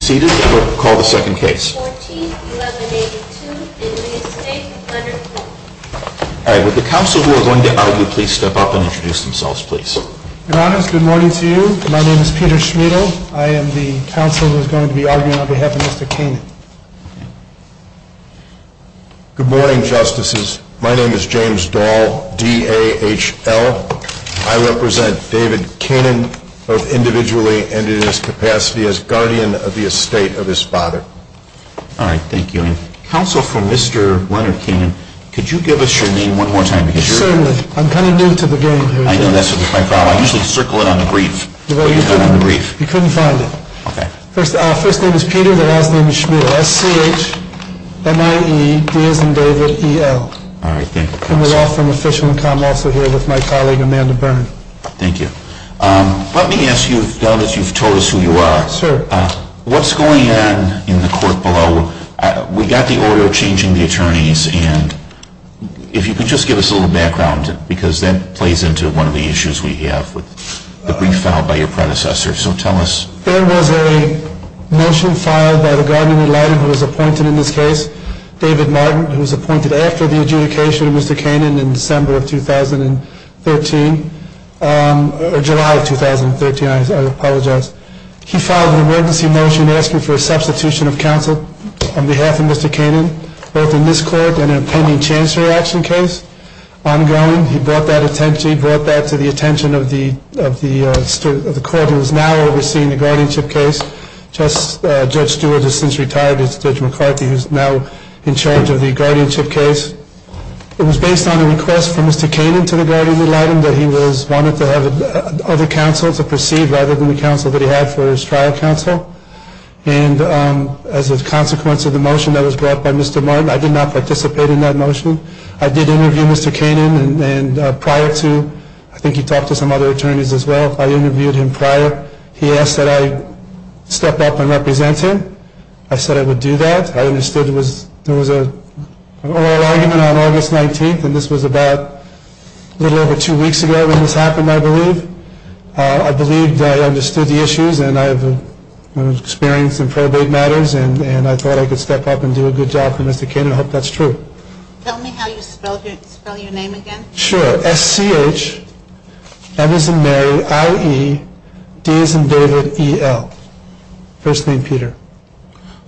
Good morning, Justices. My name is James Dahl, D-A-H-L. I represent David Koenen, both individually and in his capacity as guardian of the estate of his father. Alright, thank you. Counsel for Mr. Leonard Koenen, could you give us your name one more time? Certainly. I'm kind of new to the game here. I know, that's my problem. I usually circle it on the brief. You couldn't find it. Okay. First name is Peter, the last name is Schmidt. S-C-H-M-I-E-D-S-N-D-A-V-I-D-E-L. Alright, thank you, Counsel. And we're all from official.com, also here with my colleague Amanda Byrne. Thank you. Let me ask you, as you've told us who you are. Sure. What's going on in the court below? We've got the oral changing the attorneys, and if you could just give us a little background, because that plays into one of the issues we have with the brief filed by your predecessor. So tell us. There was a motion filed by the guardian ad litem who was appointed in this case, David Martin, who was appointed after the adjudication of Mr. Kannon in December of 2013, or July of 2013, I apologize. He filed an emergency motion asking for a substitution of counsel on behalf of Mr. Kannon, both in this court and an appending chancellor action case ongoing. He brought that to the attention of the court who is now overseeing the guardianship case. Judge Stewart has since retired. It's Judge McCarthy who is now in charge of the guardianship case. It was based on a request from Mr. Kannon to the guardian ad litem that he wanted to have other counsel to proceed rather than the counsel that he had for his trial counsel. And as a consequence of the motion that was brought by Mr. Martin, I did not participate in that motion. I did interview Mr. Kannon, and prior to, I think he talked to some other attorneys as well, I interviewed him prior. He asked that I step up and represent him. I said I would do that. I understood there was an oral argument on August 19th, and this was about a little over two weeks ago when this happened, I believe. I believe that I understood the issues, and I have experience in probate matters, and I thought I could step up and do a good job for Mr. Kannon. I hope that's true. Tell me how you spell your name again. Sure. S-C-H-M as in Mary, I-E-D as in David, E-L. First name Peter.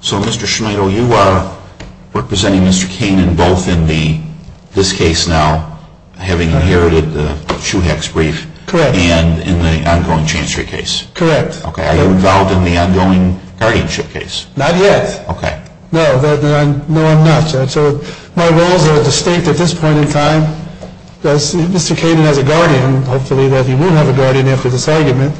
So Mr. Schmidl, you are representing Mr. Kannon both in this case now, having inherited the Shoehex brief. Correct. And in the ongoing chancery case. Correct. Okay. Are you involved in the ongoing guardianship case? Not yet. Okay. No, I'm not. So my roles are distinct at this point in time. Mr. Kannon has a guardian, hopefully that he will have a guardian after this argument.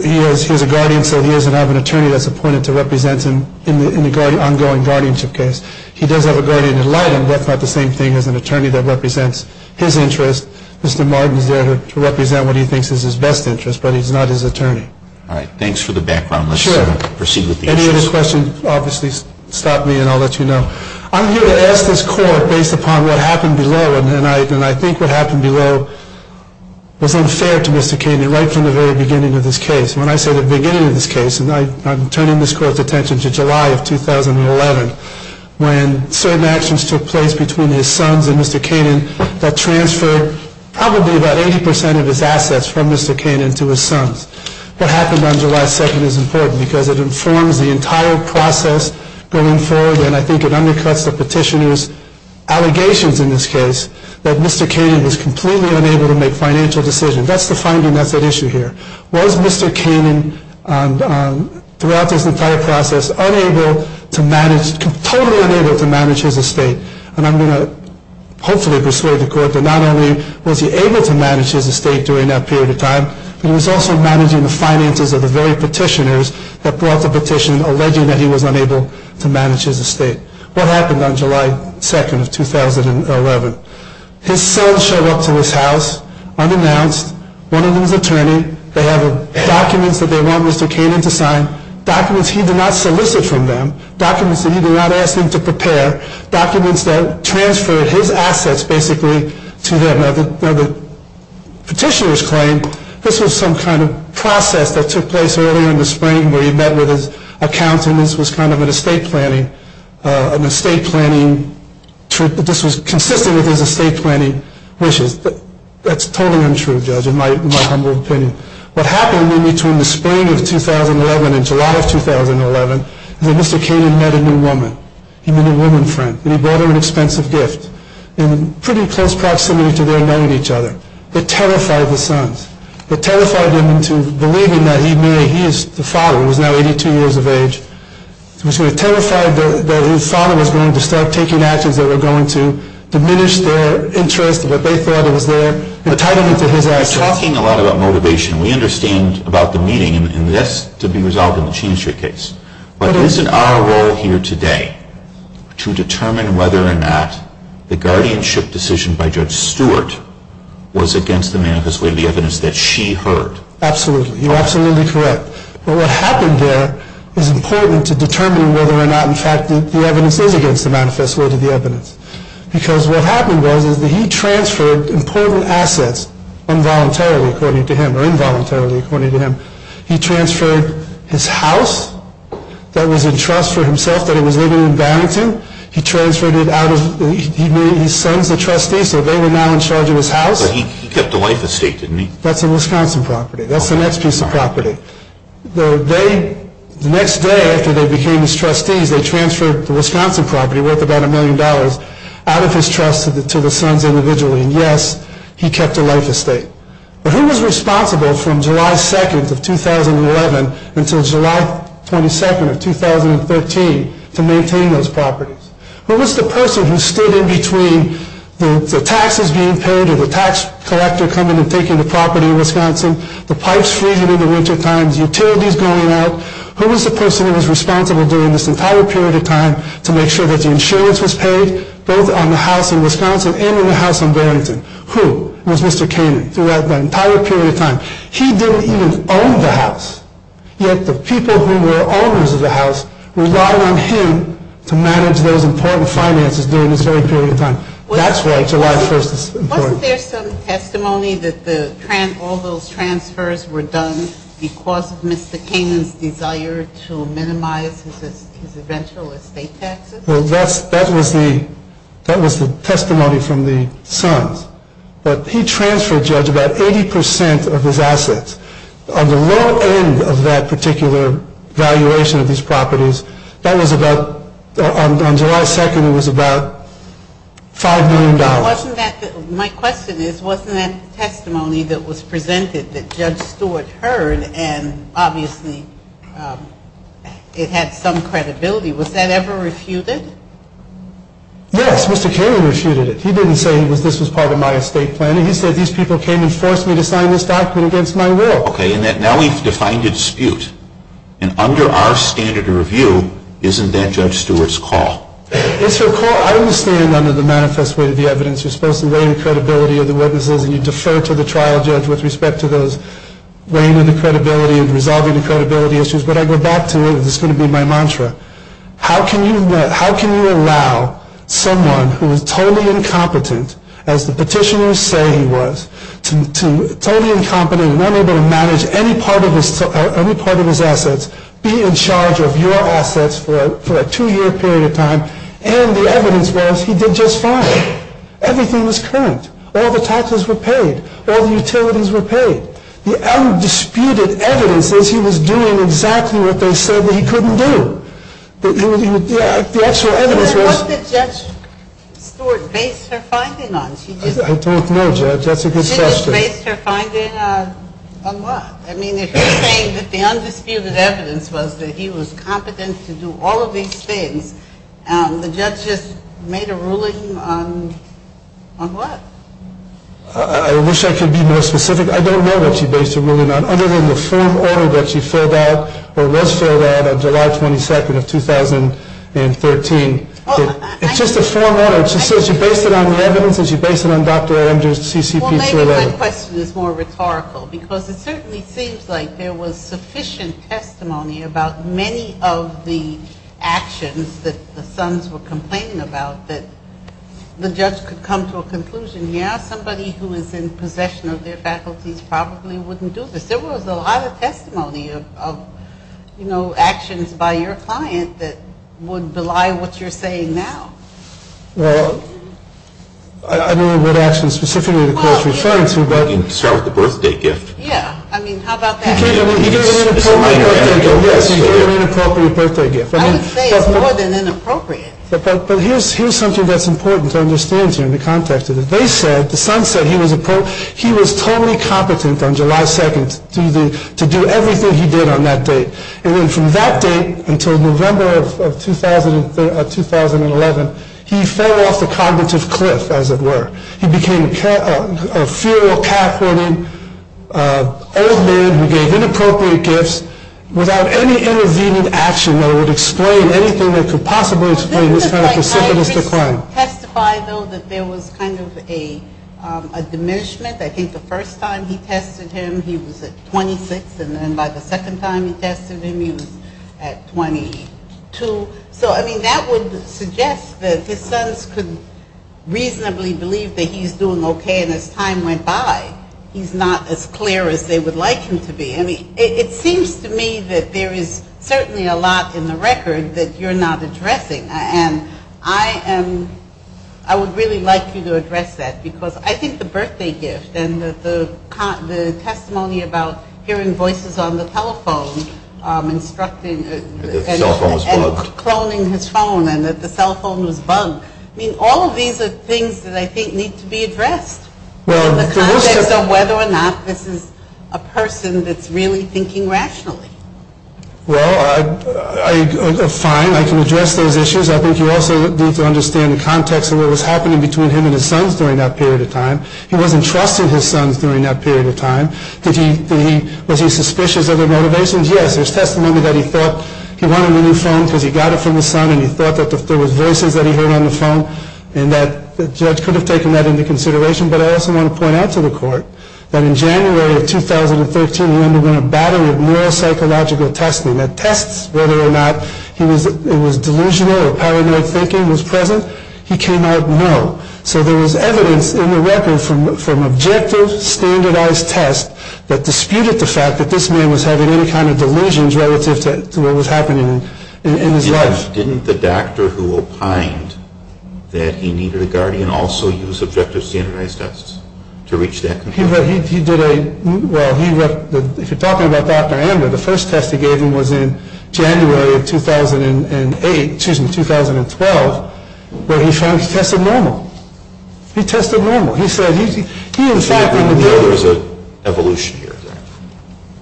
He has a guardian, so he doesn't have an attorney that's appointed to represent him in the ongoing guardianship case. He does have a guardian in Leiden, but that's not the same thing as an attorney that represents his interest. Mr. Martin is there to represent what he thinks is his best interest, but he's not his attorney. All right. Thanks for the background. Let's proceed with the issue. Any other questions, obviously stop me and I'll let you know. I'm here to ask this court based upon what happened below, and I think what happened below was unfair to Mr. Kannon right from the very beginning of this case. When I say the beginning of this case, and I'm turning this court's attention to July of 2011, when certain actions took place between his sons and Mr. Kannon that transferred probably about 80 percent of his assets from Mr. Kannon to his sons. What happened on July 2nd is important because it informs the entire process going forward, and I think it undercuts the petitioner's allegations in this case that Mr. Kannon was completely unable to make financial decisions. That's the finding that's at issue here. Was Mr. Kannon throughout this entire process unable to manage, totally unable to manage his estate? And I'm going to hopefully persuade the court that not only was he able to manage his estate during that period of time, but he was also managing the finances of the very petitioners that brought the petition alleging that he was unable to manage his estate. What happened on July 2nd of 2011? His sons showed up to his house unannounced, one of them is an attorney, they have documents that they want Mr. Kannon to sign, documents he did not solicit from them, documents that he did not ask him to prepare, documents that transferred his assets basically to him. Now the petitioner's claim, this was some kind of process that took place earlier in the spring where he met with his accountants, this was kind of an estate planning, an estate planning, this was consistent with his estate planning wishes. That's totally untrue, Judge, in my humble opinion. What happened in between the spring of 2011 and July of 2011 is that Mr. Kannon met a new woman, he met a new woman friend, and he brought her an expensive gift in pretty close proximity to their knowing each other. It terrified the sons. It terrified them into believing that he may, he is the father, he was now 82 years of age. It terrified them that his father was going to start taking actions that were going to diminish their interest, what they thought was their entitlement to his assets. We're talking a lot about motivation, we understand about the meaning, and that's to be resolved in the Cheney Street case. But isn't our role here today to determine whether or not the guardianship decision by Judge Stewart was against the manifest way of the evidence that she heard? Absolutely, you're absolutely correct. But what happened there is important to determine whether or not in fact the evidence is against the manifest way of the evidence. Because what happened was that he transferred important assets involuntarily according to him, or involuntarily according to him. He transferred his house that was in trust for himself that he was living in Barrington. He transferred it out of, he made his sons the trustees, so they were now in charge of his house. But he kept the life estate, didn't he? That's a Wisconsin property, that's the next piece of property. They, the next day after they became his trustees, they transferred the Wisconsin property worth about a million dollars out of his trust to the sons individually. And yes, he kept a life estate. But who was responsible from July 2nd of 2011 until July 22nd of 2013 to maintain those properties? Who was the person who stood in between the taxes being paid or the tax collector coming and taking the property in Wisconsin, the pipes freezing in the wintertime, utilities going out? Who was the person who was responsible during this entire period of time to make sure that the insurance was paid, both on the house in Wisconsin and on the house in Barrington? Who was Mr. Kainan throughout the entire period of time? He didn't even own the house, yet the people who were owners of the house relied on him to manage those important finances during this very period of time. That's why July 1st is important. Wasn't there some testimony that all those transfers were done because of Mr. Kainan's desire to minimize his eventual estate taxes? Well, that was the testimony from the sons. But he transferred, Judge, about 80% of his assets. On the low end of that particular valuation of these properties, that was about, on July 2nd, it was about $5 million. My question is, wasn't that testimony that was presented that Judge Stewart heard and obviously it had some credibility, was that ever refuted? Yes, Mr. Kainan refuted it. He didn't say this was part of my estate planning. He said these people came and forced me to sign this document against my will. Okay, and now we've defined a dispute. And under our standard of review, isn't that Judge Stewart's call? It's her call. I understand under the manifest way of the evidence you're supposed to weigh the credibility of the witnesses and you defer to the trial judge with respect to those weighing the credibility and resolving the credibility issues. But I go back to it. This is going to be my mantra. How can you allow someone who is totally incompetent, as the petitioners say he was, to totally incompetent and unable to manage any part of his assets, be in charge of your assets for a two-year period of time, and the evidence was he did just fine. Everything was correct. All the taxes were paid. All the utilities were paid. The undisputed evidence is he was doing exactly what they said that he couldn't do. The actual evidence was... What did Judge Stewart base her finding on? I don't know, Judge. That's a good question. She just based her finding on what? I mean, if you're saying that the undisputed evidence was that he was competent to do all of these things, the judge just made a ruling on what? I wish I could be more specific. I don't know what she based her ruling on, other than the form order that she filled out, or was filled out, on July 22nd of 2013. It's just a form order. She says she based it on the evidence and she based it on Dr. Amdur's CCP survey. Maybe my question is more rhetorical, because it certainly seems like there was sufficient testimony about many of the actions that the Sons were complaining about that the judge could come to a conclusion, yeah, somebody who is in possession of their faculties probably wouldn't do this. There was a lot of testimony of, you know, actions by your client that would belie what you're saying now. Well, I don't know what actions specifically the court is referring to. Well, you can start with the birthday gift. Yeah, I mean, how about that? He gave an inappropriate birthday gift. Yes, he gave an inappropriate birthday gift. I would say it's more than inappropriate. But here's something that's important to understand here in the context of this. They said, the Sons said he was totally competent on July 2nd to do everything he did on that date. And then from that date until November of 2011, he fell off the cognitive cliff, as it were. He became a feral, calf-hunting old man who gave inappropriate gifts without any intervening action that would explain anything that could possibly explain this kind of precipitous decline. I would testify, though, that there was kind of a diminishment. I think the first time he tested him, he was at 26. And then by the second time he tested him, he was at 22. So, I mean, that would suggest that his Sons could reasonably believe that he's doing okay. And as time went by, he's not as clear as they would like him to be. I mean, it seems to me that there is certainly a lot in the record that you're not addressing. And I would really like you to address that because I think the birthday gift and the testimony about hearing voices on the telephone instructing and cloning his phone and that the cell phone was bugged. I mean, all of these are things that I think need to be addressed in the context of whether or not this is a person that's really thinking rationally. Well, fine, I can address those issues. I think you also need to understand the context of what was happening between him and his Sons during that period of time. He wasn't trusting his Sons during that period of time. Was he suspicious of their motivations? Yes, there's testimony that he thought he wanted a new phone because he got it from his son and he thought that there were voices that he heard on the phone and that the judge could have taken that into consideration. But I also want to point out to the Court that in January of 2013, when a battle with neuropsychological testing that tests whether or not it was delusional or paranoid thinking was present, he came out no. So there was evidence in the record from objective standardized tests that disputed the fact that this man was having any kind of delusions relative to what was happening in his life. Didn't the doctor who opined that he needed a guardian also use objective standardized tests to reach that conclusion? Well, if you're talking about Dr. Ander, the first test he gave him was in January of 2008, excuse me, 2012, where he tested normal. He tested normal. The other is an evolution here.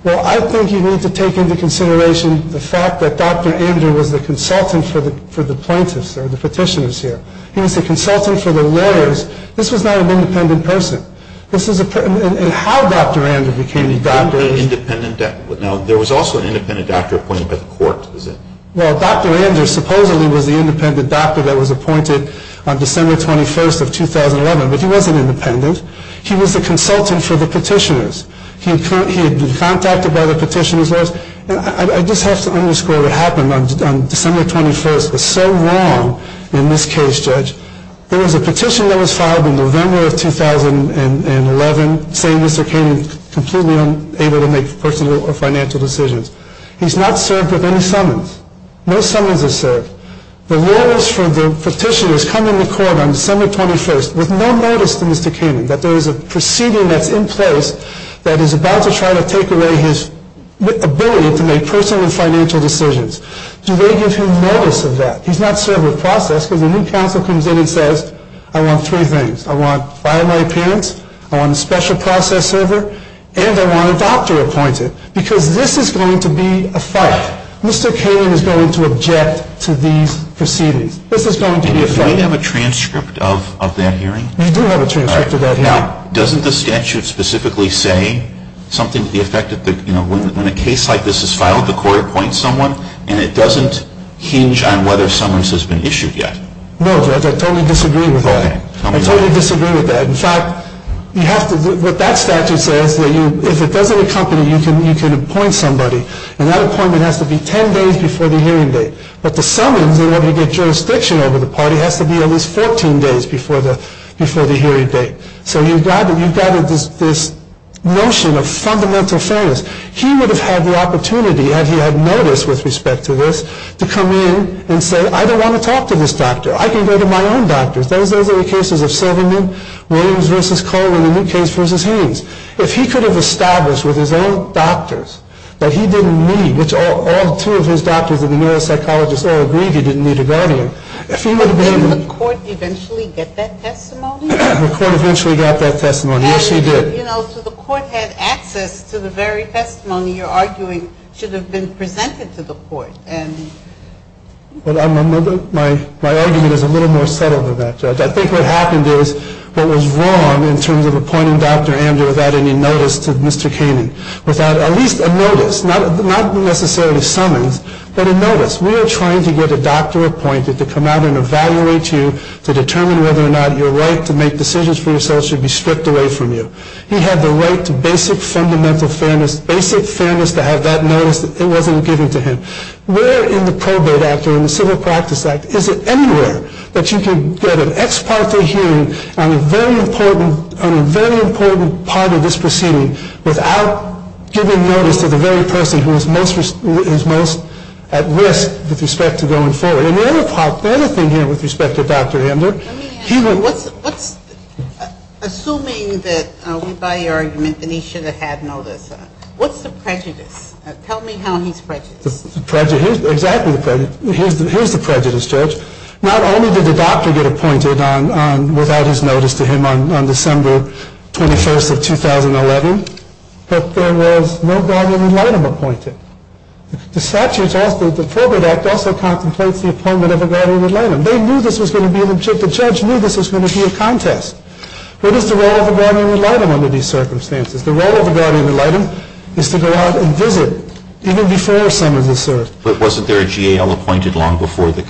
Well, I think you need to take into consideration the fact that Dr. Ander was the consultant for the plaintiffs or the petitioners here. He was the consultant for the lawyers. This was not an independent person. And how Dr. Ander became the doctor is... Now, there was also an independent doctor appointed by the Court, was there? Well, Dr. Ander supposedly was the independent doctor that was appointed on December 21st of 2011, but he wasn't independent. He was the consultant for the petitioners. He had been contacted by the petitioners. I just have to underscore what happened on December 21st. In this case, Judge, there was a petition that was filed in November of 2011 saying Mr. Kainan was completely unable to make personal or financial decisions. He's not served with any summons. No summons are served. The lawyers for the petitioners come into court on December 21st with no notice to Mr. Kainan that there is a proceeding that's in place that is about to try to take away his ability to make personal and financial decisions. Do they give him notice of that? He's not served with process, because a new counsel comes in and says, I want three things. I want primary appearance. I want a special process server. And I want a doctor appointed. Because this is going to be a fight. Mr. Kainan is going to object to these proceedings. This is going to be a fight. Do you have a transcript of that hearing? We do have a transcript of that hearing. Now, doesn't the statute specifically say something to the effect that, you know, when a case like this is filed, the court appoints someone, and it doesn't hinge on whether summons has been issued yet? No, Judge, I totally disagree with that. I totally disagree with that. In fact, what that statute says is that if it doesn't accompany, you can appoint somebody. And that appointment has to be 10 days before the hearing date. But the summons, in order to get jurisdiction over the party, has to be at least 14 days before the hearing date. So you've got this notion of fundamental fairness. He would have had the opportunity, had he had notice with respect to this, to come in and say, I don't want to talk to this doctor. I can go to my own doctors. Those are the cases of Seligman, Williams v. Kohling, and Luke Hayes v. Haynes. If he could have established with his own doctors that he didn't need, which all two of his doctors and the neuropsychologists all agreed he didn't need a guardian. But didn't the court eventually get that testimony? The court eventually got that testimony. Yes, he did. You know, so the court had access to the very testimony you're arguing should have been presented to the court. My argument is a little more subtle than that, Judge. I think what happened is what was wrong in terms of appointing Dr. Andrew without any notice to Mr. Caney. Without at least a notice, not necessarily summons, but a notice. We are trying to get a doctor appointed to come out and evaluate you, to determine whether or not your right to make decisions for yourself should be stripped away from you. He had the right to basic fundamental fairness, basic fairness to have that notice that wasn't given to him. Where in the probate act or in the civil practice act is it anywhere that you can get an ex parte hearing on a very important part of this proceeding without giving notice to the very person who is most at risk with respect to going forward? And the other part, the other thing here with respect to Dr. Ender. Assuming that we buy your argument that he should have had notice, what's the prejudice? Tell me how he's prejudiced. Exactly the prejudice. Here's the prejudice, Judge. Not only did the doctor get appointed without his notice to him on December 21st of 2011, but there was no guard that would let him appointed. The statute, the probate act also contemplates the appointment of a guardian ad litem. They knew this was going to be an objective. The judge knew this was going to be a contest. What is the role of a guardian ad litem under these circumstances? The role of a guardian ad litem is to go out and visit even before summons is served. But wasn't there a G.A.L. appointed long before the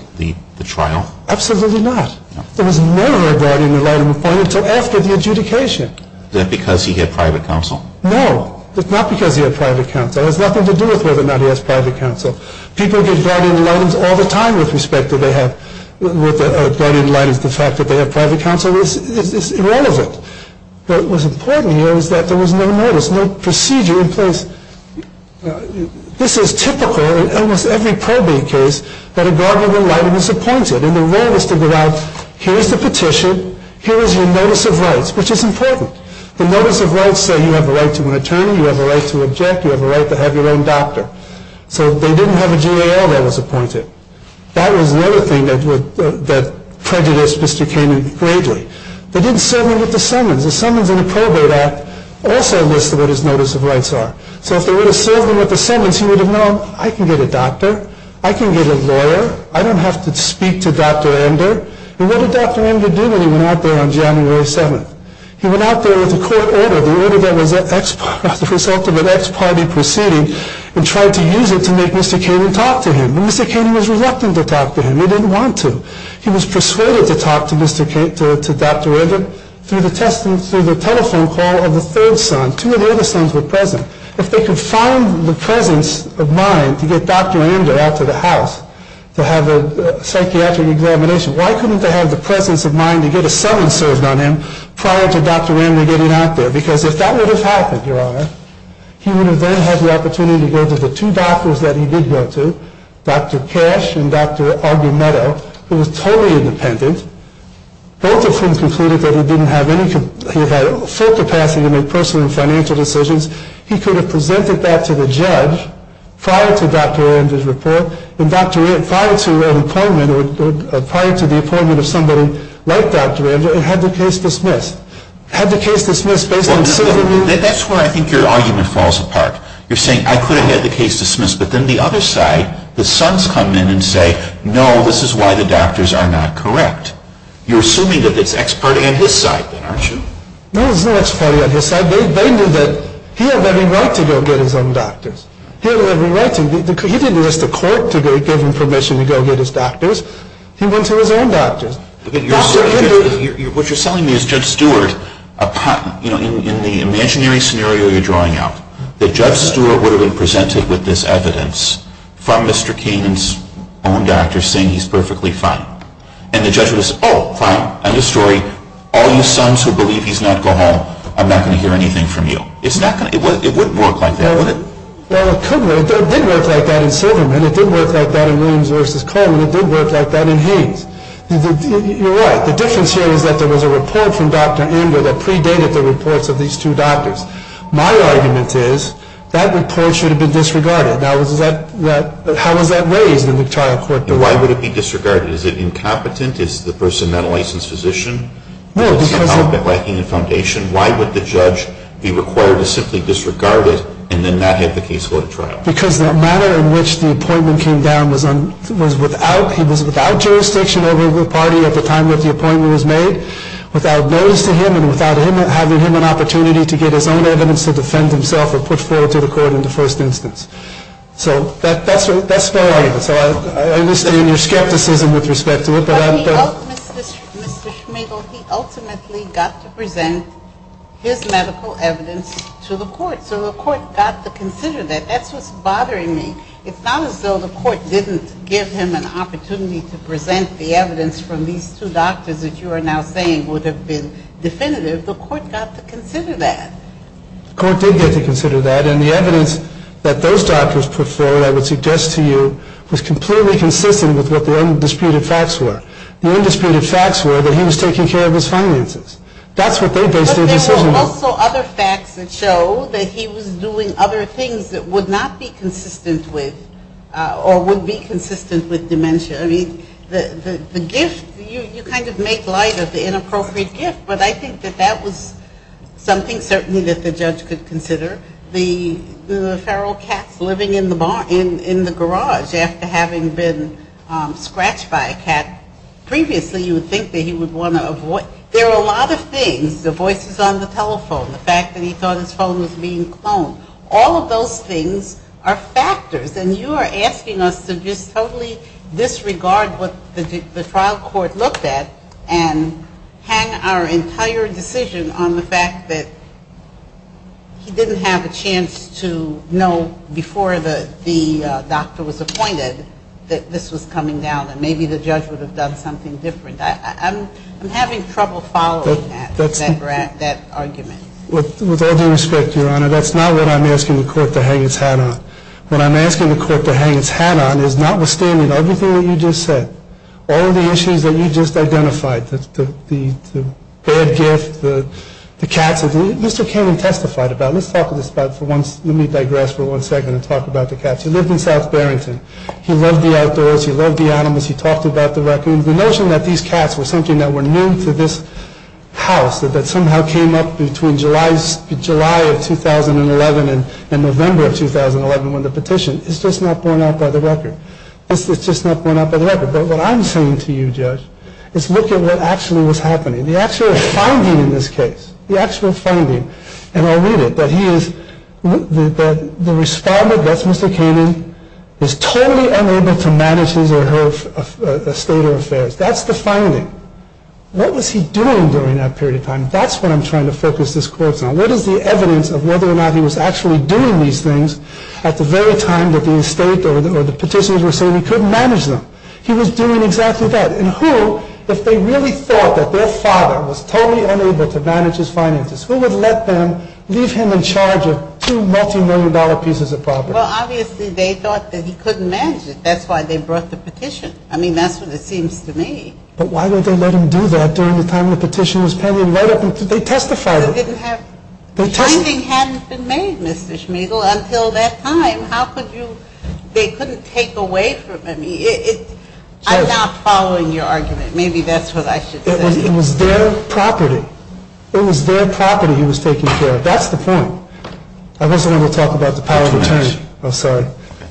trial? Absolutely not. There was never a guardian ad litem appointed until after the adjudication. Then because he had private counsel? No, not because he had private counsel. It has nothing to do with whether or not he has private counsel. People get guardian ad litems all the time with respect to the fact that they have private counsel. It's irrelevant. What was important here was that there was no notice, no procedure in place. This is typical in almost every probate case that a guardian ad litem is appointed. And the role is to go out, here's the petition, here is your notice of rights, which is important. The notice of rights say you have a right to an attorney, you have a right to object, you have a right to have your own doctor. So they didn't have a G.A.L. that was appointed. That was another thing that prejudiced Mr. Caney greatly. They didn't serve him with the summons. The summons in the Probate Act also listed what his notice of rights are. So if they would have served him with the summons, he would have known, I can get a doctor, I can get a lawyer, I don't have to speak to Dr. Ender. And what did Dr. Ender do when he went out there on January 7th? He went out there with a court order, the order that was the result of an ex parte proceeding, and tried to use it to make Mr. Caney talk to him. And Mr. Caney was reluctant to talk to him. He didn't want to. He was persuaded to talk to Dr. Ender through the telephone call of the third son. Two of the other sons were present. If they could find the presence of mind to get Dr. Ender out to the house to have a psychiatric examination, why couldn't they have the presence of mind to get a summons served on him prior to Dr. Ender getting out there? Because if that would have happened, Your Honor, he would have then had the opportunity to go to the two doctors that he did go to, Dr. Cash and Dr. Argumento, who was totally independent, both of whom concluded that he had full capacity to make personal and financial decisions. He could have presented that to the judge prior to Dr. Ender's report, or prior to the appointment of somebody like Dr. Ender, and had the case dismissed. Had the case dismissed based on certain reasons? That's where I think your argument falls apart. You're saying, I could have had the case dismissed, but then the other side, the sons come in and say, no, this is why the doctors are not correct. You're assuming that it's ex parte on his side then, aren't you? No, it's not ex parte on his side. They knew that he had every right to go get his own doctors. He had every right to. He didn't ask the court to give him permission to go get his doctors. He went to his own doctors. What you're telling me is Judge Stewart, in the imaginary scenario you're drawing out, that Judge Stewart would have been presented with this evidence from Mr. Kainan's own doctors saying he's perfectly fine. And the judge would have said, oh, fine, end of story. All you sons who believe he's not go home, I'm not going to hear anything from you. It wouldn't work like that, would it? Well, it could work. It did work like that in Silverman. It did work like that in Williams v. Coleman. It did work like that in Haynes. You're right. The difference here is that there was a report from Dr. Ander that predated the reports of these two doctors. My argument is that report should have been disregarded. Now, how was that raised in the notarial court? Why would it be disregarded? Is it incompetent? Is the person not a licensed physician? No, because of… Because the manner in which the appointment came down was without, he was without jurisdiction over the party at the time that the appointment was made, without notice to him, and without him having an opportunity to get his own evidence to defend himself or put forward to the court in the first instance. So that's my argument. So I understand your skepticism with respect to it. But he ultimately, Mr. Schmigel, he ultimately got to present his medical evidence to the court. So the court got to consider that. That's what's bothering me. It's not as though the court didn't give him an opportunity to present the evidence from these two doctors that you are now saying would have been definitive. The court got to consider that. The court did get to consider that. And the evidence that those doctors put forward, I would suggest to you, was completely consistent with what the undisputed facts were. The undisputed facts were that he was taking care of his finances. That's what they based their decision on. There were also other facts that show that he was doing other things that would not be consistent with or would be consistent with dementia. I mean, the gift, you kind of make light of the inappropriate gift, but I think that that was something certainly that the judge could consider. The feral cats living in the garage after having been scratched by a cat, previously you would think that he would want to avoid. There are a lot of things. The voices on the telephone. The fact that he thought his phone was being cloned. All of those things are factors, and you are asking us to just totally disregard what the trial court looked at and hang our entire decision on the fact that he didn't have a chance to know before the doctor was appointed that this was coming down and maybe the judge would have done something different. I'm having trouble following that argument. With all due respect, Your Honor, that's not what I'm asking the court to hang its hat on. What I'm asking the court to hang its hat on is notwithstanding everything that you just said, all of the issues that you just identified, the bad gift, the cats. Mr. Kagan testified about it. Let me digress for one second and talk about the cats. He lived in South Barrington. He loved the outdoors. He loved the animals. He talked about the raccoons. The notion that these cats were something that were new to this house, that somehow came up between July of 2011 and November of 2011 when the petition, it's just not borne out by the record. It's just not borne out by the record. But what I'm saying to you, Judge, is look at what actually was happening. The actual finding in this case, the actual finding, and I'll read it, that he is, that the respondent, that's Mr. Kagan, is totally unable to manage his or her estate or affairs. That's the finding. What was he doing during that period of time? That's what I'm trying to focus this court on. What is the evidence of whether or not he was actually doing these things at the very time that the estate or the petitioners were saying he couldn't manage them? He was doing exactly that. And who, if they really thought that their father was totally unable to manage his finances, who would let them leave him in charge of two multimillion dollar pieces of property? Well, obviously they thought that he couldn't manage it. That's why they brought the petition. I mean, that's what it seems to me. But why would they let him do that during the time the petition was pending? They testified. The finding hadn't been made, Mr. Schmidl, until that time. How could you? They couldn't take away from him. I'm not following your argument. Maybe that's what I should say. It was their property. It was their property he was taking care of. That's the point. I wasn't able to talk about the power of attorney. I'm sorry.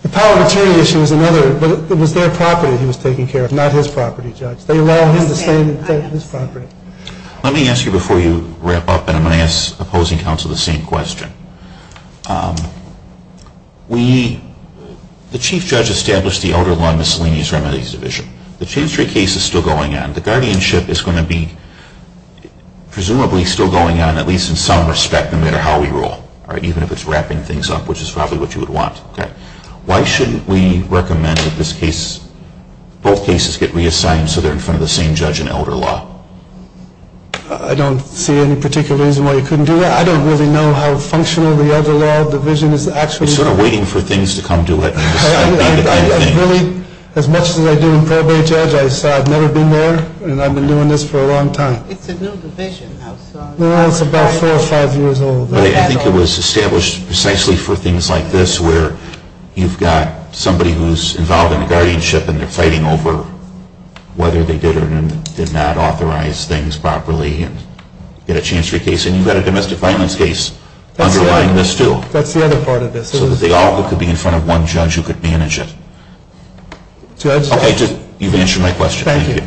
The power of attorney issue is another. But it was their property he was taking care of, not his property, Judge. They allowed him to stay on his property. Let me ask you before you wrap up, and I'm going to ask opposing counsel the same question. We, the Chief Judge established the Elder Law Miscellaneous Remedies Division. The chain of three case is still going on. The guardianship is going to be presumably still going on, at least in some respect, no matter how we rule, even if it's wrapping things up, which is probably what you would want. Why shouldn't we recommend that both cases get reassigned so they're in front of the same judge in Elder Law? I don't see any particular reason why you couldn't do that. I don't really know how functional the Elder Law Division is actually. You're sort of waiting for things to come to it. As much as I do in probate, Judge, I've never been there, and I've been doing this for a long time. It's a new division. Well, it's about four or five years old. I think it was established precisely for things like this where you've got somebody who's involved in the guardianship and they're fighting over whether they did or did not authorize things properly and get a chance for a case. And you've got a domestic violence case underlying this too. That's the other part of this. So that they all could be in front of one judge who could manage it. Judge? Okay, you've answered my question. Thank you.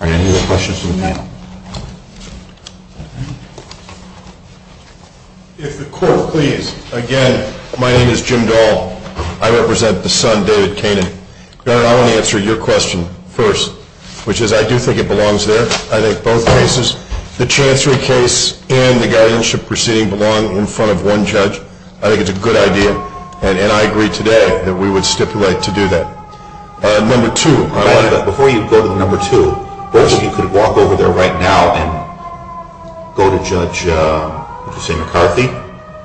Are there any other questions from the panel? If the court please. Again, my name is Jim Dahl. I represent the son, David Kanin. I want to answer your question first, which is I do think it belongs there. I think both cases, the Chancery case and the guardianship proceeding, belong in front of one judge. I think it's a good idea. And I agree today that we would stipulate to do that. Number two. Before you go to number two, I think you could walk over there right now and go to Judge McCarthy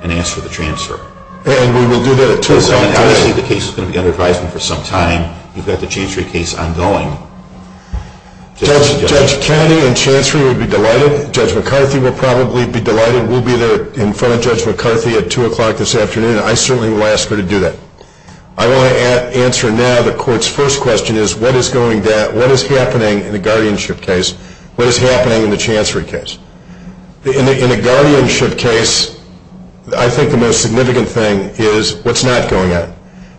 and ask for the transfer. And we will do that at 2 o'clock. Obviously, the case is going to be under advisement for some time. You've got the Chancery case ongoing. Judge Kanin and Chancery would be delighted. Judge McCarthy will probably be delighted. We'll be there in front of Judge McCarthy at 2 o'clock this afternoon. I certainly will ask her to do that. I want to answer now the court's first question is what is happening in the guardianship case? What is happening in the Chancery case? In a guardianship case, I think the most significant thing is what's not going on.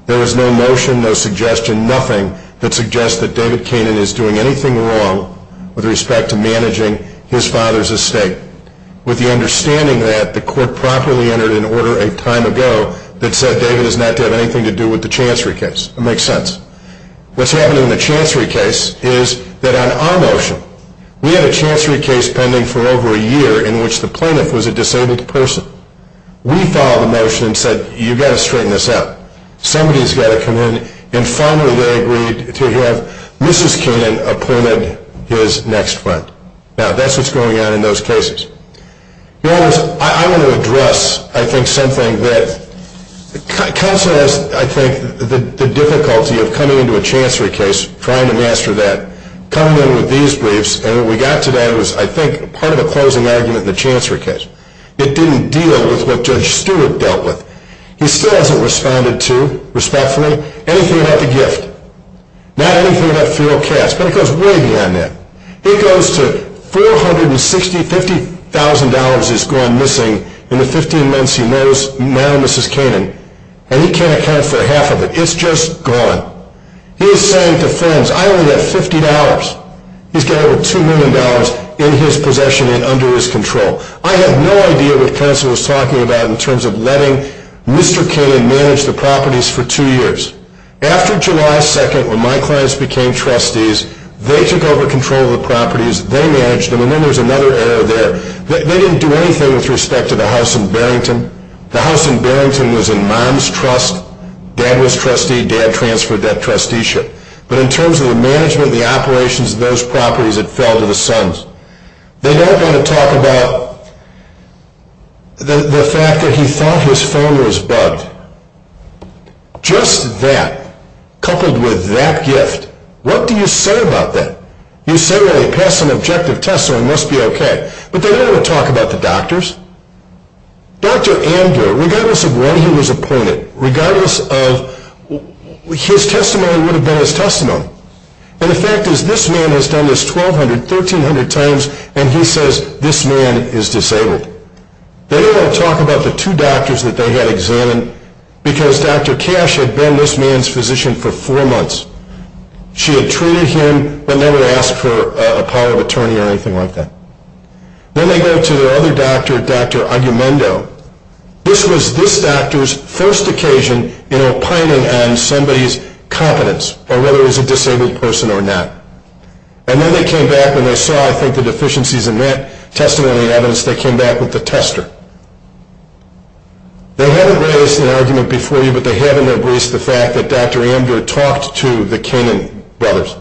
There is no notion, no suggestion, nothing that suggests that David Kanin is doing anything wrong with respect to managing his father's estate. With the understanding that the court properly entered an order a time ago that said David does not have anything to do with the Chancery case. It makes sense. What's happening in the Chancery case is that on our motion, we had a Chancery case pending for over a year in which the plaintiff was a disabled person. We followed the motion and said you've got to straighten this out. Somebody has got to come in and finally they agreed to have Mrs. Kanin appointed his next friend. Now that's what's going on in those cases. I want to address, I think, something that counsel has, I think, the difficulty of coming into a Chancery case trying to master that. Coming in with these briefs and what we got today was, I think, part of a closing argument in the Chancery case. It didn't deal with what Judge Stewart dealt with. He still hasn't responded to, respectfully, anything about the gift. Not anything about feral cats, but it goes way beyond that. It goes to $450,000 has gone missing in the 15 months he knows now Mrs. Kanin. And he can't account for half of it. It's just gone. He's saying to friends, I only have $50. He's got over $2 million in his possession and under his control. I have no idea what counsel was talking about in terms of letting Mr. Kanin manage the properties for two years. After July 2nd, when my clients became trustees, they took over control of the properties. They managed them. And then there's another error there. They didn't do anything with respect to the house in Barrington. The house in Barrington was in mom's trust. Dad was trustee. Dad transferred that trusteeship. But in terms of the management and the operations of those properties, it fell to the sons. They don't want to talk about the fact that he thought his phone was bugged. Just that, coupled with that gift. What do you say about that? You say, well, they passed some objective tests so he must be okay. But they don't want to talk about the doctors. Dr. Amdur, regardless of when he was appointed, regardless of his testimony would have been his testimony. And the fact is this man has done this 1,200, 1,300 times and he says this man is disabled. They don't want to talk about the two doctors that they had examined because Dr. Cash had been this man's physician for four months. She had treated him but never asked for a power of attorney or anything like that. Then they go to the other doctor, Dr. Agumendo. This was this doctor's first occasion in opining on somebody's competence or whether he was a disabled person or not. And then they came back and they saw, I think, the deficiencies in that testimony and evidence. They came back with the tester. They haven't raised an argument before you but they have in their briefs the fact that Dr. Amdur talked to the Canaan brothers.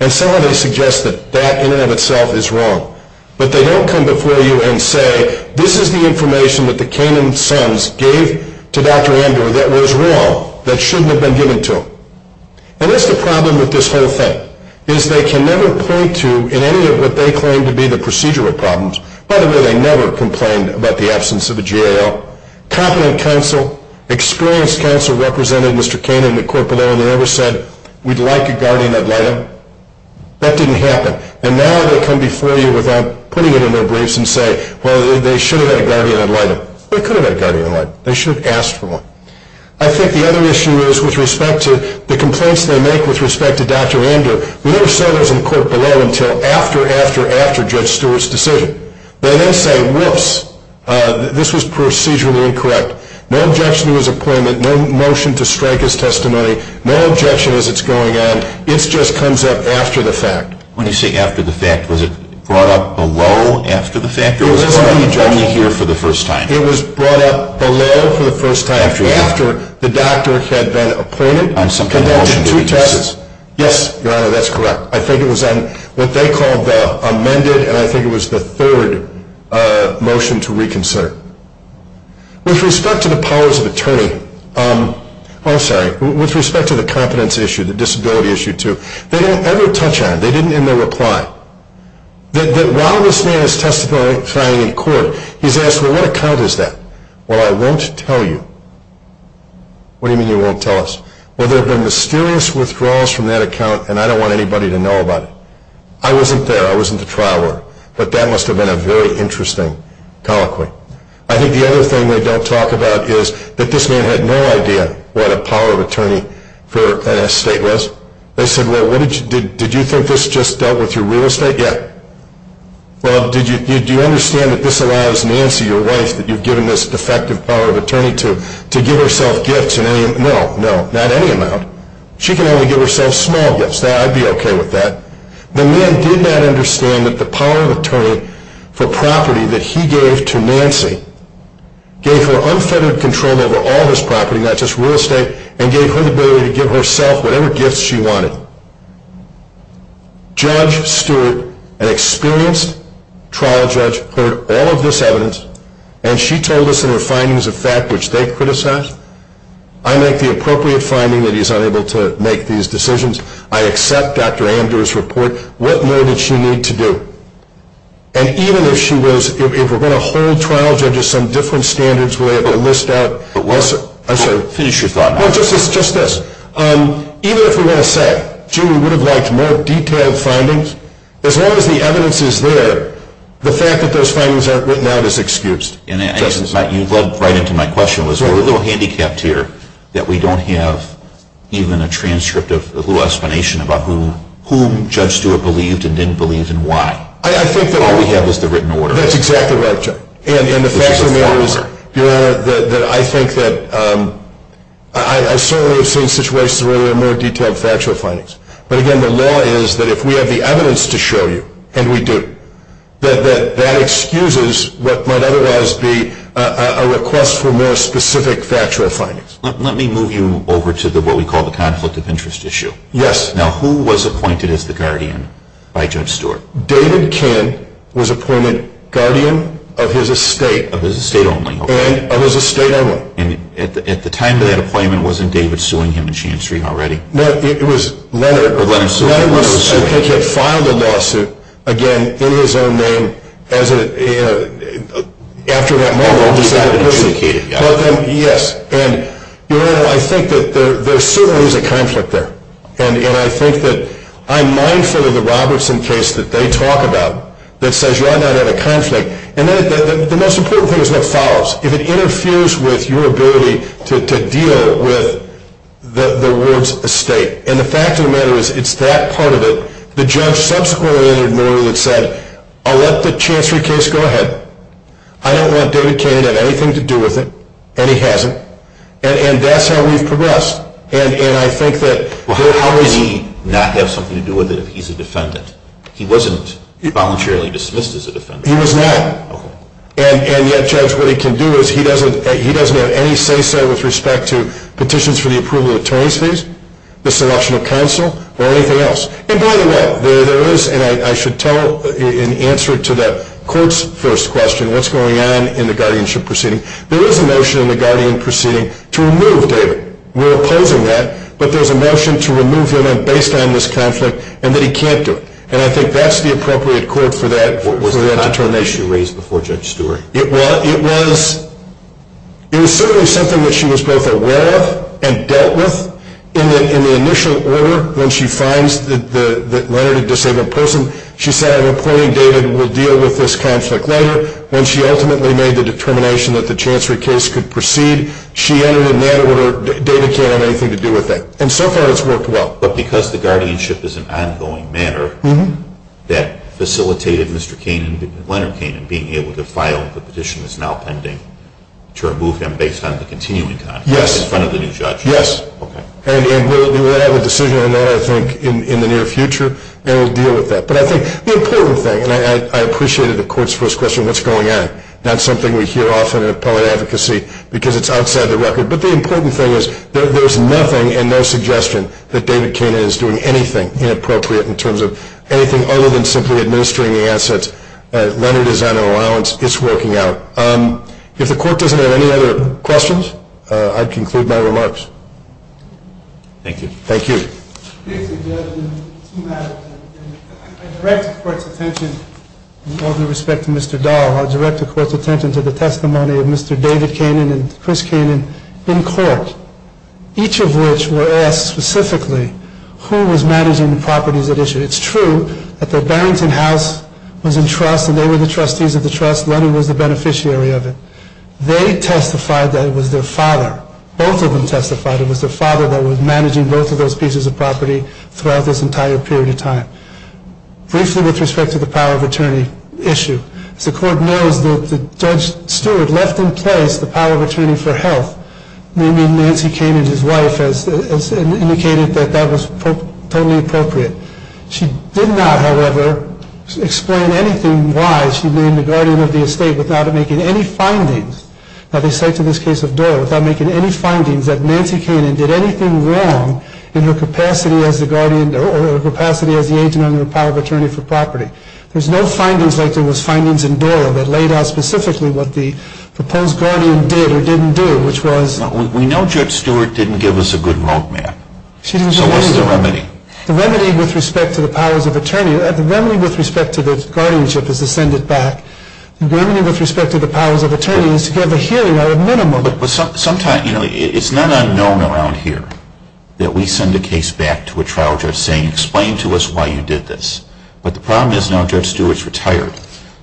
And some of them suggest that that in and of itself is wrong. But they don't come before you and say, this is the information that the Canaan sons gave to Dr. Amdur that was wrong, that shouldn't have been given to him. And that's the problem with this whole thing is they can never point to in any of what they claim to be the procedural problems. By the way, they never complained about the absence of a GAO. Competent counsel, experienced counsel represented Mr. Canaan at court below and they never said, we'd like a guardian ad litem. That didn't happen. And now they come before you without putting it in their briefs and say, well, they should have had a guardian ad litem. They could have had a guardian ad litem. They should have asked for one. I think the other issue is with respect to the complaints they make with respect to Dr. Amdur. We never saw those in court below until after, after, after Judge Stewart's decision. They then say, whoops, this was procedurally incorrect. No objection to his appointment. No motion to strike his testimony. No objection as it's going on. It just comes up after the fact. When you say after the fact, was it brought up below after the fact? It was brought up below for the first time. After the doctor had been appointed and conducted two tests. Yes, Your Honor, that's correct. I think it was on what they called the amended and I think it was the third motion to reconsider. With respect to the powers of attorney, I'm sorry, with respect to the competence issue, the disability issue too, they don't ever touch on it. They didn't in their reply. That while this man is testifying in court, he's asked, well, what account is that? Well, I won't tell you. What do you mean you won't tell us? Well, there have been mysterious withdrawals from that account and I don't want anybody to know about it. I wasn't there. I was in the trial order. But that must have been a very interesting colloquy. I think the other thing they don't talk about is that this man had no idea what a power of attorney for an estate was. They said, well, did you think this just dealt with your real estate? Yeah. Well, do you understand that this allows Nancy, your wife, that you've given this defective power of attorney to, to give herself gifts? No, no, not any amount. She can only give herself small gifts. I'd be okay with that. The man did not understand that the power of attorney for property that he gave to Nancy gave her unfettered control over all of his property, not just real estate, and gave her the ability to give herself whatever gifts she wanted. Judge Stewart, an experienced trial judge, heard all of this evidence and she told us in her findings of fact, which they criticized. I make the appropriate finding that he's unable to make these decisions. I accept Dr. Amdur's report. What more did she need to do? And even if she was, if we're going to hold trial judges some different standards, we'll have a list out. Finish your thought. Even if we want to say, gee, we would have liked more detailed findings, as long as the evidence is there, the fact that those findings aren't written out is excused. You led right into my question. We're a little handicapped here that we don't have even a transcript of a little explanation about whom Judge Stewart believed and didn't believe and why. All we have is the written order. That's exactly right. And the fact of the matter is, Your Honor, that I think that I certainly have seen situations where there were more detailed factual findings. But, again, the law is that if we have the evidence to show you, and we do, that that excuses what might otherwise be a request for more specific factual findings. Let me move you over to what we call the conflict of interest issue. Yes. Now, who was appointed as the guardian by Judge Stewart? David Kinn was appointed guardian of his estate. Of his estate only. And of his estate only. And at the time of that appointment, wasn't David suing him in Shand Street already? No, it was Leonard. Leonard was suing him. Leonard was, I think, had filed a lawsuit, again, in his own name, after that moment. He got adjudicated. Yes. And, Your Honor, I think that there certainly is a conflict there. And I think that I'm mindful of the Robertson case that they talk about, that says you are not in a conflict. And the most important thing is what follows. If it interferes with your ability to deal with the ward's estate. And the fact of the matter is, it's that part of it. The judge subsequently entered more than said, I'll let the Chancery case go ahead. I don't want David Kinn to have anything to do with it. And he hasn't. And that's how we've progressed. Well, how could he not have something to do with it if he's a defendant? He wasn't voluntarily dismissed as a defendant. He was not. Okay. And yet, Judge, what he can do is he doesn't have any say-so with respect to petitions for the approval of attorney's fees, the selection of counsel, or anything else. And by the way, there is, and I should tell in answer to the court's first question, what's going on in the guardianship proceeding, there is a notion in the guardianship proceeding to remove David. We're opposing that. But there's a notion to remove him based on this conflict and that he can't do it. And I think that's the appropriate court for that. What was the contour issue raised before Judge Stewart? It was certainly something that she was both aware of and dealt with. In the initial order, when she finds that Leonard a disabled person, she said, I'm reporting David. We'll deal with this conflict later. When she ultimately made the determination that the Chancery case could proceed, she entered in that order, David can't have anything to do with that. And so far it's worked well. But because the guardianship is an ongoing matter that facilitated Mr. Kainan, Leonard Kainan, being able to file the petition that's now pending, to remove him based on the continuing conflict in front of the new judge? Yes. Okay. And we'll have a decision on that, I think, in the near future, and we'll deal with that. But I think the important thing, and I appreciated the court's first question, what's going on? That's something we hear often in appellate advocacy because it's outside the record. But the important thing is there's nothing and no suggestion that David Kainan is doing anything inappropriate in terms of anything other than simply administering the assets. Leonard is on an allowance. It's working out. If the court doesn't have any other questions, I'd conclude my remarks. Thank you. Thank you. I direct the court's attention, with all due respect to Mr. Dahl, I direct the court's attention to the testimony of Mr. David Kainan and Chris Kainan in court, each of which were asked specifically who was managing the properties at issue. It's true that the Barrington House was in trust and they were the trustees of the trust. Leonard was the beneficiary of it. They testified that it was their father. Both of them testified it was their father that was managing both of those pieces of property. Throughout this entire period of time. Briefly with respect to the power of attorney issue. As the court knows that Judge Stewart left in place the power of attorney for health, meaning Nancy Kainan, his wife, indicated that that was totally appropriate. She did not, however, explain anything why she named the guardian of the estate without making any findings. Now they cite to this case of Doyle without making any findings that Nancy Kainan did anything wrong in her capacity as the guardian or her capacity as the agent under the power of attorney for property. There's no findings like there was findings in Doyle that laid out specifically what the proposed guardian did or didn't do, which was. We know Judge Stewart didn't give us a good roadmap. She didn't give us a good roadmap. So what's the remedy? The remedy with respect to the powers of attorney, the remedy with respect to the guardianship is to send it back. The remedy with respect to the powers of attorney is to give the hearing a minimum. But sometimes, you know, it's not unknown around here that we send a case back to a trial judge saying explain to us why you did this. But the problem is now Judge Stewart's retired.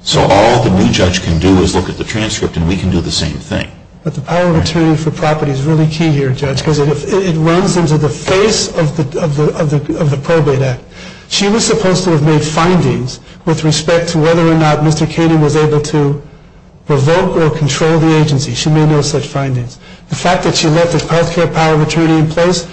So all the new judge can do is look at the transcript and we can do the same thing. But the power of attorney for property is really key here, Judge, because it runs into the face of the probate act. She was supposed to have made findings with respect to whether or not Mr. Canning was able to revoke or control the agency. She made no such findings. The fact that she left the health care power of attorney in place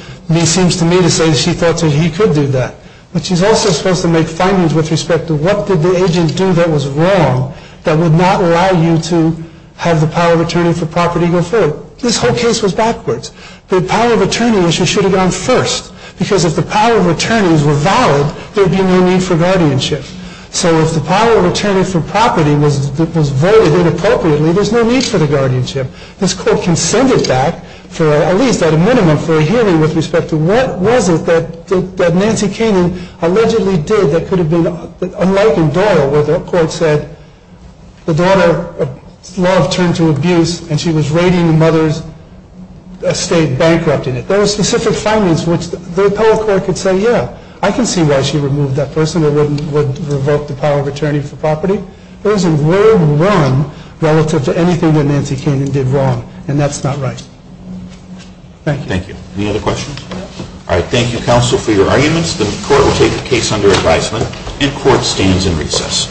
seems to me to say she thought he could do that. But she's also supposed to make findings with respect to what did the agent do that was wrong that would not allow you to have the power of attorney for property go forward. This whole case was backwards. The power of attorney issue should have gone first, because if the power of attorneys were valid, there would be no need for guardianship. So if the power of attorney for property was voided inappropriately, there's no need for the guardianship. This court can send it back, at least at a minimum, for a hearing with respect to what was it that Nancy Canning allegedly did that could have been unlike in Doyle, where the court said the daughter's love turned to abuse, and she was raiding the mother's estate, bankrupting it. There were specific findings which the appellate court could say, yeah, I can see why she removed that person or would revoke the power of attorney for property. There was a world run relative to anything that Nancy Canning did wrong, and that's not right. Thank you. Thank you. Any other questions? All right. Thank you, counsel, for your arguments. The court will take the case under advisement, and court stands in recess.